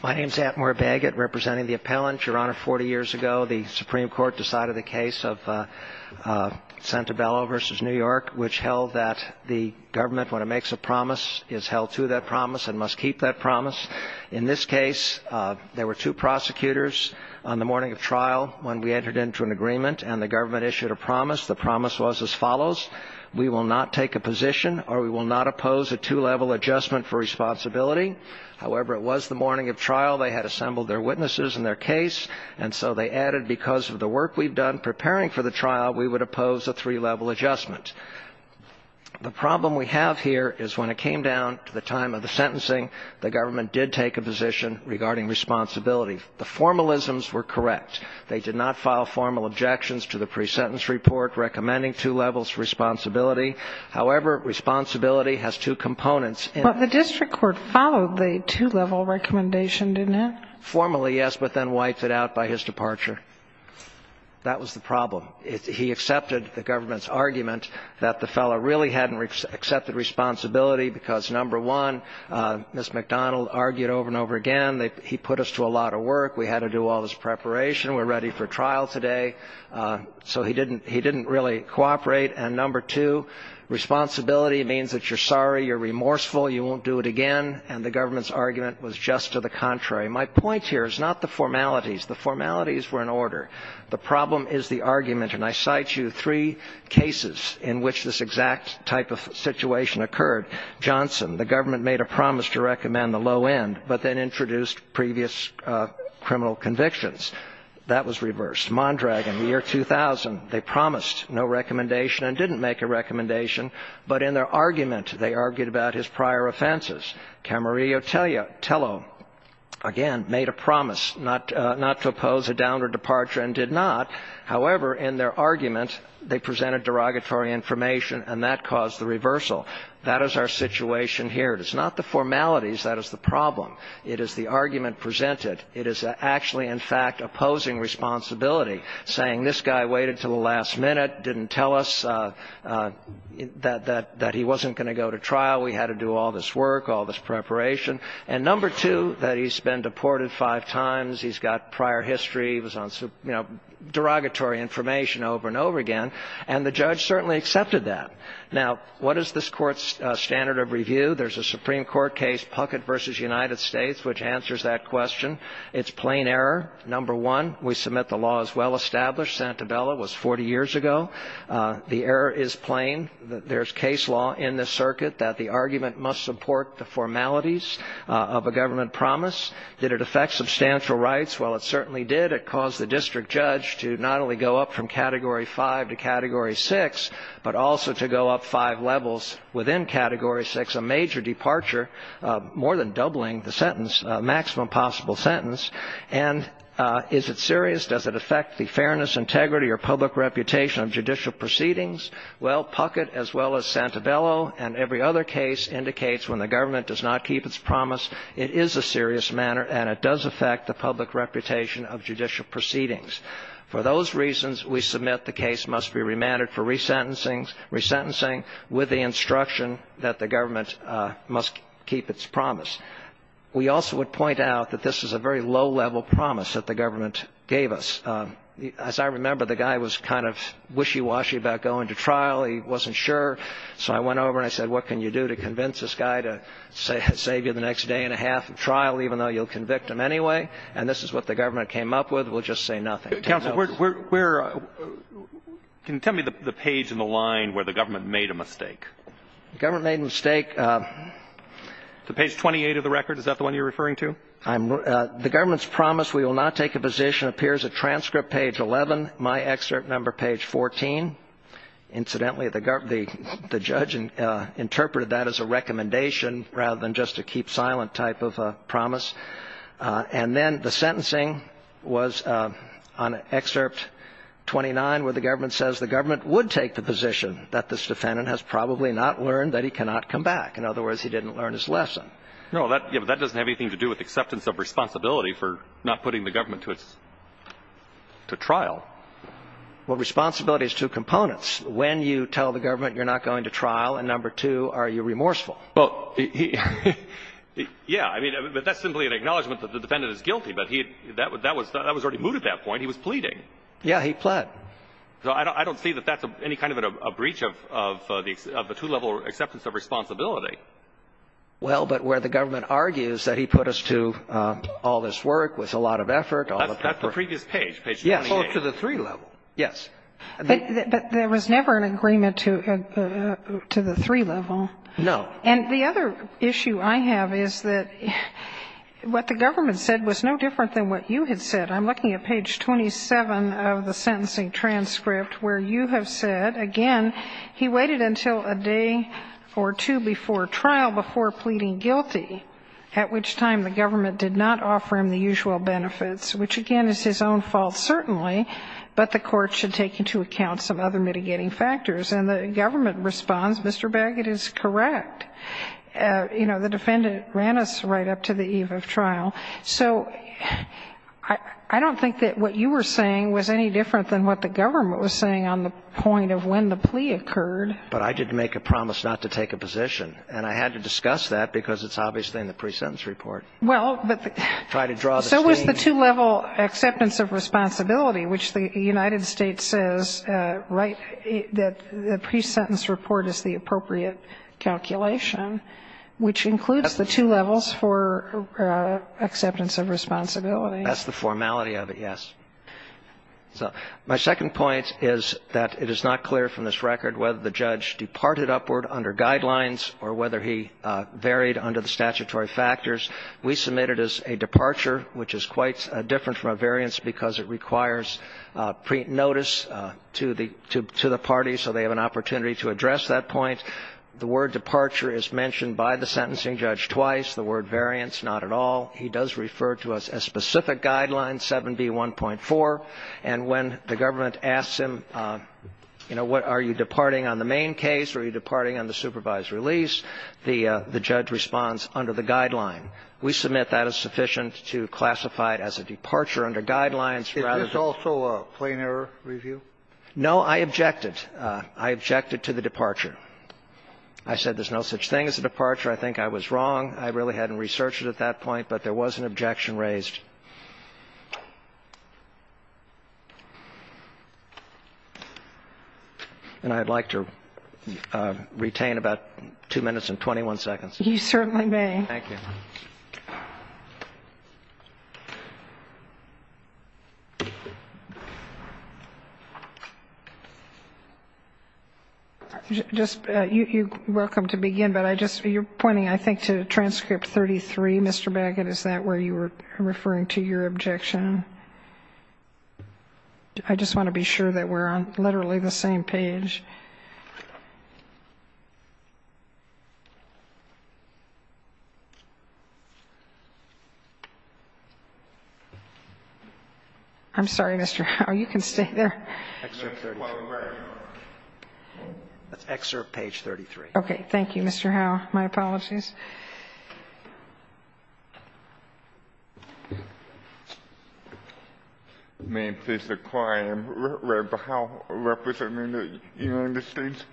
My name is Atmore Baggett, representing the appellant. Your Honor, 40 years ago, the Supreme Court decided the case of Santabello v. New York, which held that the government, when it makes a promise, is held to that promise and must keep that promise. In this case, there were two prosecutors on the morning of trial when we entered into an agreement and the government issued a promise. The promise was as follows. We will not take a position or we will not oppose a two-level adjustment for responsibility. However, it was the morning of trial. They had assembled their witnesses and their case. And so they added, because of the work we've done preparing for the trial, we would oppose a three-level adjustment. The problem we have here is when it came down to the time of the sentencing, the government did take a position regarding responsibility. The formalisms were correct. They did not file formal objections to the pre-sentence report recommending two levels of responsibility. However, responsibility has two components. But the district court followed the two-level recommendation, didn't it? Formally, yes, but then wiped it out by his departure. That was the problem. He accepted the government's argument that the fellow really hadn't accepted responsibility because, number one, Ms. McDonald argued over and over again that he put us to a lot of work, we had to do all this preparation, we're ready for trial today. So he didn't really cooperate. And, number two, responsibility means that you're sorry, you're remorseful, you won't do it again. And the government's argument was just to the contrary. My point here is not the formalities. The formalities were in order. The problem is the argument. And I cite you three cases in which this exact type of situation occurred. Johnson, the government made a promise to recommend the low end, but then introduced previous criminal convictions. That was reversed. Mondrag in the year 2000, they promised no recommendation and didn't make a recommendation. But in their argument, they argued about his prior offenses. Camarillo Tello, again, made a promise not to oppose a downward departure and did not. However, in their argument, they presented derogatory information and that caused the reversal. That is our situation here. It is not the formalities that is the problem. It is the argument presented. It is actually, in fact, opposing responsibility, saying this guy waited until the last minute, didn't tell us that he wasn't going to go to trial. We had to do all this work, all this preparation. And, number two, that he's been deported five times. He's got prior history. He was on, you know, derogatory information over and over again. And the judge certainly accepted that. Now, what is this Court's standard of review? There's a Supreme Court case, Puckett v. United States, which answers that question. It's plain error. Number one, we submit the law is well established. Santabella was 40 years ago. The error is plain. There's case law in this circuit that the argument must support the formalities of a government promise. Did it affect substantial rights? Well, it certainly did. It caused the district judge to not only go up from Category 5 to Category 6, but also to go up five levels within Category 6, a major departure, more than doubling the sentence, maximum possible sentence. And is it serious? Does it affect the fairness, integrity, or public reputation of judicial proceedings? Well, Puckett, as well as Santabella and every other case, indicates when the government does not keep its promise, it is a serious matter, and it does affect the public reputation of judicial proceedings. For those reasons, we submit the case must be remanded for resentencing with the instruction that the government must keep its promise. We also would point out that this is a very low-level promise that the government gave us. As I remember, the guy was kind of wishy-washy about going to trial. He wasn't sure. So I went over and I said, what can you do to convince this guy to save you the next day and a half of trial, even though you'll convict him anyway? And this is what the government came up with. It will just say nothing. Counsel, where – can you tell me the page in the line where the government made a mistake? The government made a mistake. Is it page 28 of the record? Is that the one you're referring to? The government's promise, we will not take a position, appears at transcript page 11, my excerpt number page 14. Incidentally, the judge interpreted that as a recommendation rather than just a keep-silent type of promise. And then the sentencing was on excerpt 29, where the government says the government would take the position that this defendant has probably not learned that he cannot come back. In other words, he didn't learn his lesson. No, that doesn't have anything to do with acceptance of responsibility for not putting the government to trial. Well, responsibility has two components. When you tell the government you're not going to trial, and number two, are you remorseful? Well, yeah. I mean, that's simply an acknowledgment that the defendant is guilty. But that was already moved at that point. He was pleading. Yeah, he pled. So I don't see that that's any kind of a breach of the two-level acceptance of responsibility. Well, but where the government argues that he put us to all this work with a lot of effort. That's the previous page, page 28. Yes, to the three-level. Yes. But there was never an agreement to the three-level. No. And the other issue I have is that what the government said was no different than what you had said. I'm looking at page 27 of the sentencing transcript where you have said, again, he waited until a day or two before trial before pleading guilty, at which time the government did not offer him the usual benefits, which, again, is his own fault certainly, but the court should take into account some other mitigating factors. And the government responds, Mr. Baggett is correct. You know, the defendant ran us right up to the eve of trial. So I don't think that what you were saying was any different than what the government was saying on the point of when the plea occurred. But I didn't make a promise not to take a position. And I had to discuss that because it's obviously in the pre-sentence report. Well, but the – Try to draw the scheme. It's the two-level acceptance of responsibility, which the United States says, right, that the pre-sentence report is the appropriate calculation, which includes the two levels for acceptance of responsibility. That's the formality of it, yes. So my second point is that it is not clear from this record whether the judge departed upward under guidelines or whether he varied under the statutory factors. We submit it as a departure, which is quite different from a variance because it requires notice to the party so they have an opportunity to address that point. The word departure is mentioned by the sentencing judge twice. The word variance, not at all. He does refer to a specific guideline, 7B1.4. And when the government asks him, you know, are you departing on the main case or are you departing on the supervised release, the judge responds, under the guideline. We submit that is sufficient to classify it as a departure under guidelines rather than the other. Is this also a plain error review? No, I objected. I objected to the departure. I said there's no such thing as a departure. I think I was wrong. I really hadn't researched it at that point, but there was an objection raised. And I'd like to retain about two minutes and 21 seconds. You certainly may. Thank you. You're welcome to begin, but I just you're pointing, I think, to transcript 33, Mr. Baggett. Is that where you were referring to? I'm referring to your objection. I just want to be sure that we're on literally the same page. I'm sorry, Mr. Howe. You can stay there. That's excerpt page 33. Okay. Thank you, Mr. Howe. My apologies. May it please the Client, Reb Howe, representing the United States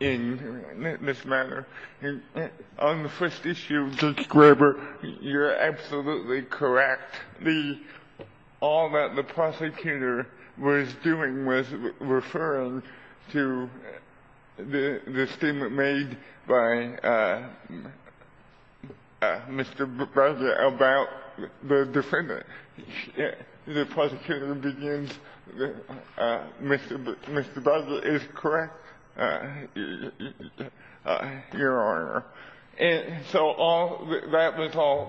in this matter. On the first issue, Judge Graber, you're absolutely correct. All that the prosecutor was doing was referring to the statement made by the prosecutor to Mr. Baggett about the defendant. The prosecutor begins, Mr. Baggett is correct, Your Honor. And so that was all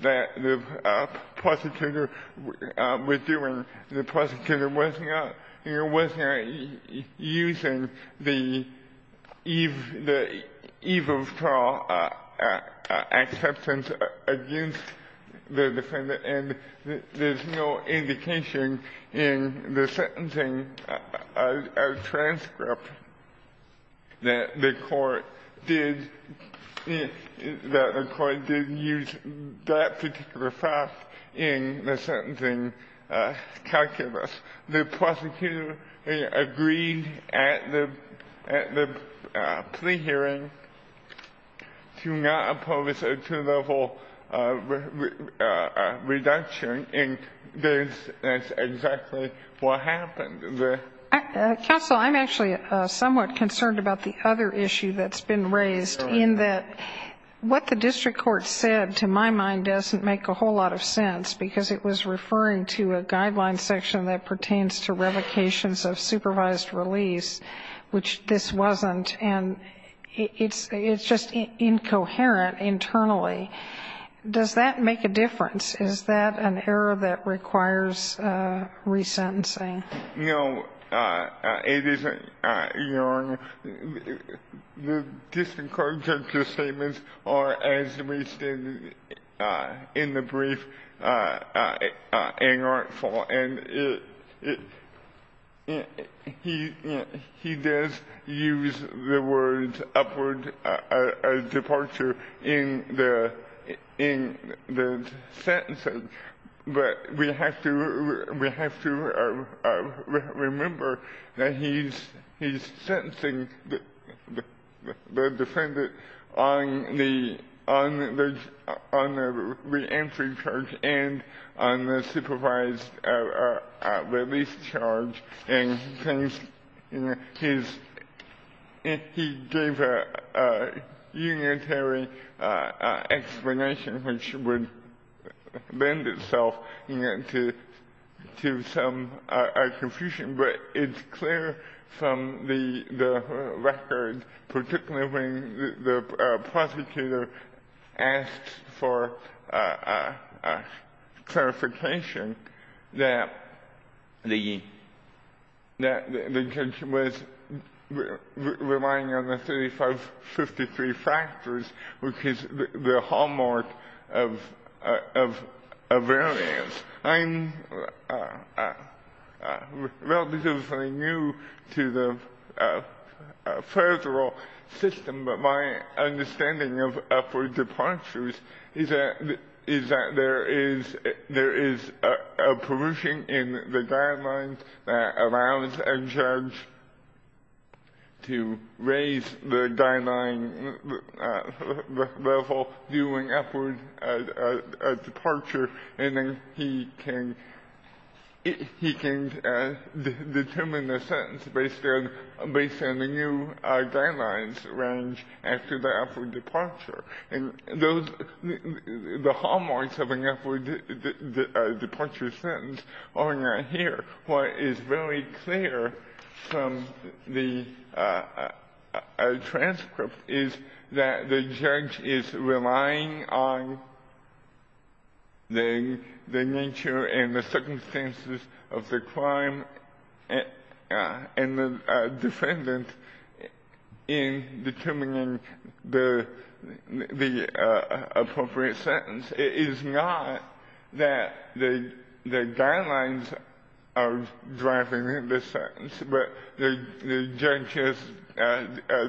that the prosecutor was doing. The prosecutor was not using the eve of trial acceptance against the defendant. And there's no indication in the sentencing transcript that the court did use that particular fact in the sentencing calculus. The prosecutor agreed at the plea hearing to not oppose a two-level reduction, and that's exactly what happened. Counsel, I'm actually somewhat concerned about the other issue that's been raised, in that what the district court said, to my mind, doesn't make a whole lot of sense, because it was referring to a guideline section that pertains to revocations of supervised release, which this wasn't. And it's just incoherent internally. Does that make a difference? Is that an error that requires resentencing? No, it isn't, Your Honor. The district court judge's statements are, as we stated in the brief, unartful. And he does use the words upward departure in the sentencing. But we have to remember that he's sentencing the defendant on the reentry charge and on the supervised release charge. And he gave a unitary explanation, which would lend itself to some confusion. But it's clear from the record, particularly when the prosecutor asked for clarification, that the judge was relying on the 3553 factors, which is the hallmark of variance. I'm relatively new to the federal system. But my understanding of upward departures is that there is a perversion in the guidelines that allows a judge to raise the guideline level due an upward departure, and then he can determine the sentence based on the new guidelines arranged after the upward departure. And the hallmarks of an upward departure sentence are not here. What is very clear from the transcript is that the judge is relying on the nature and the circumstances of the crime and the defendant in determining the appropriate sentence. It is not that the guidelines are driving the sentence, but the judge's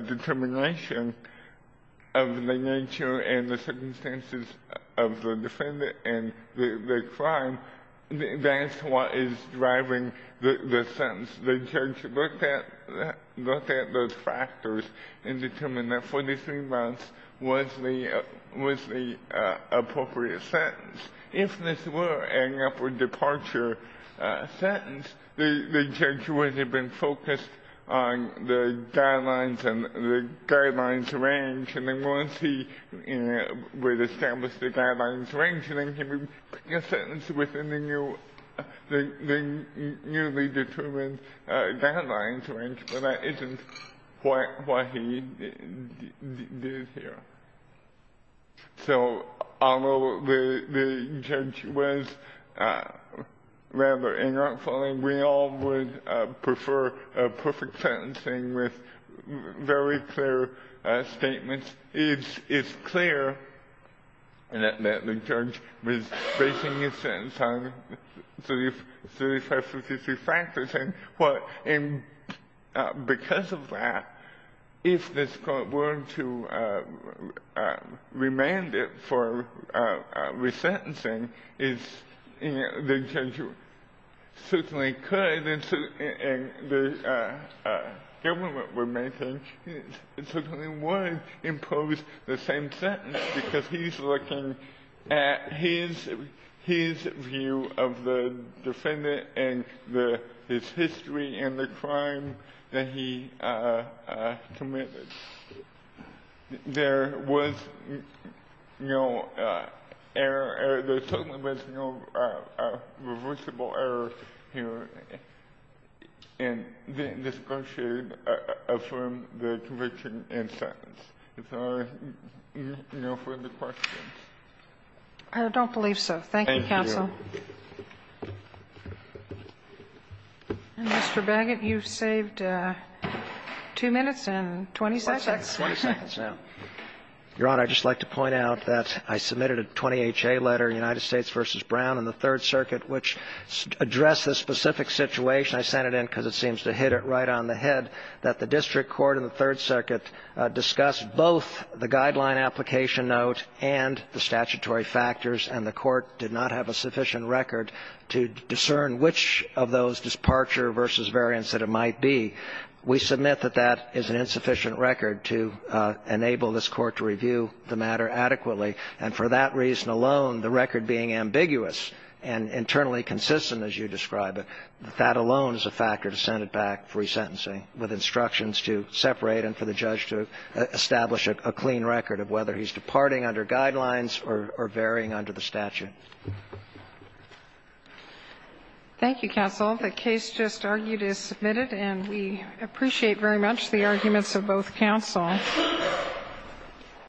determination of the nature and the circumstances of the defendant and the crime, that's what is driving the sentence. The judge looked at those factors and determined that 43 months was the appropriate sentence. If this were an upward departure sentence, the judge would have been focused on the guidelines and the guidelines arranged. And then once he had established the guidelines arranged, then he would pick a sentence within the newly determined guidelines arranged. But that isn't what he did here. So although the judge was rather inartful, and we all would prefer a perfect sentencing with very clear statements, it's clear that the judge was basing his sentence on 35, 563 factors. And because of that, if this court were to remand it for resentencing, the judge certainly could. And the government would certainly want to impose the same sentence because he's looking at his view of the defendant and his history and the crime that he committed. There was no irreversible error here, and this court should affirm the conviction and sentence. If there are no further questions. I don't believe so. Thank you, counsel. And, Mr. Baggett, you've saved 2 minutes and 20 seconds. 20 seconds now. Your Honor, I'd just like to point out that I submitted a 20HA letter, United States v. Brown and the Third Circuit, which addressed this specific situation. I sent it in because it seems to hit it right on the head that the district court and the Third Circuit discussed both the guideline application note and the statutory factors, and the court did not have a sufficient record to discern which of those departure versus variance that it might be. We submit that that is an insufficient record to enable this court to review the matter adequately. And for that reason alone, the record being ambiguous and internally consistent, as you describe it, that alone is a factor to send it back for resentencing with instructions to separate and for the judge to establish a clean record of whether he's departing under guidelines or varying under the statute. Thank you, counsel. The case just argued is submitted, and we appreciate very much the arguments of both counsel.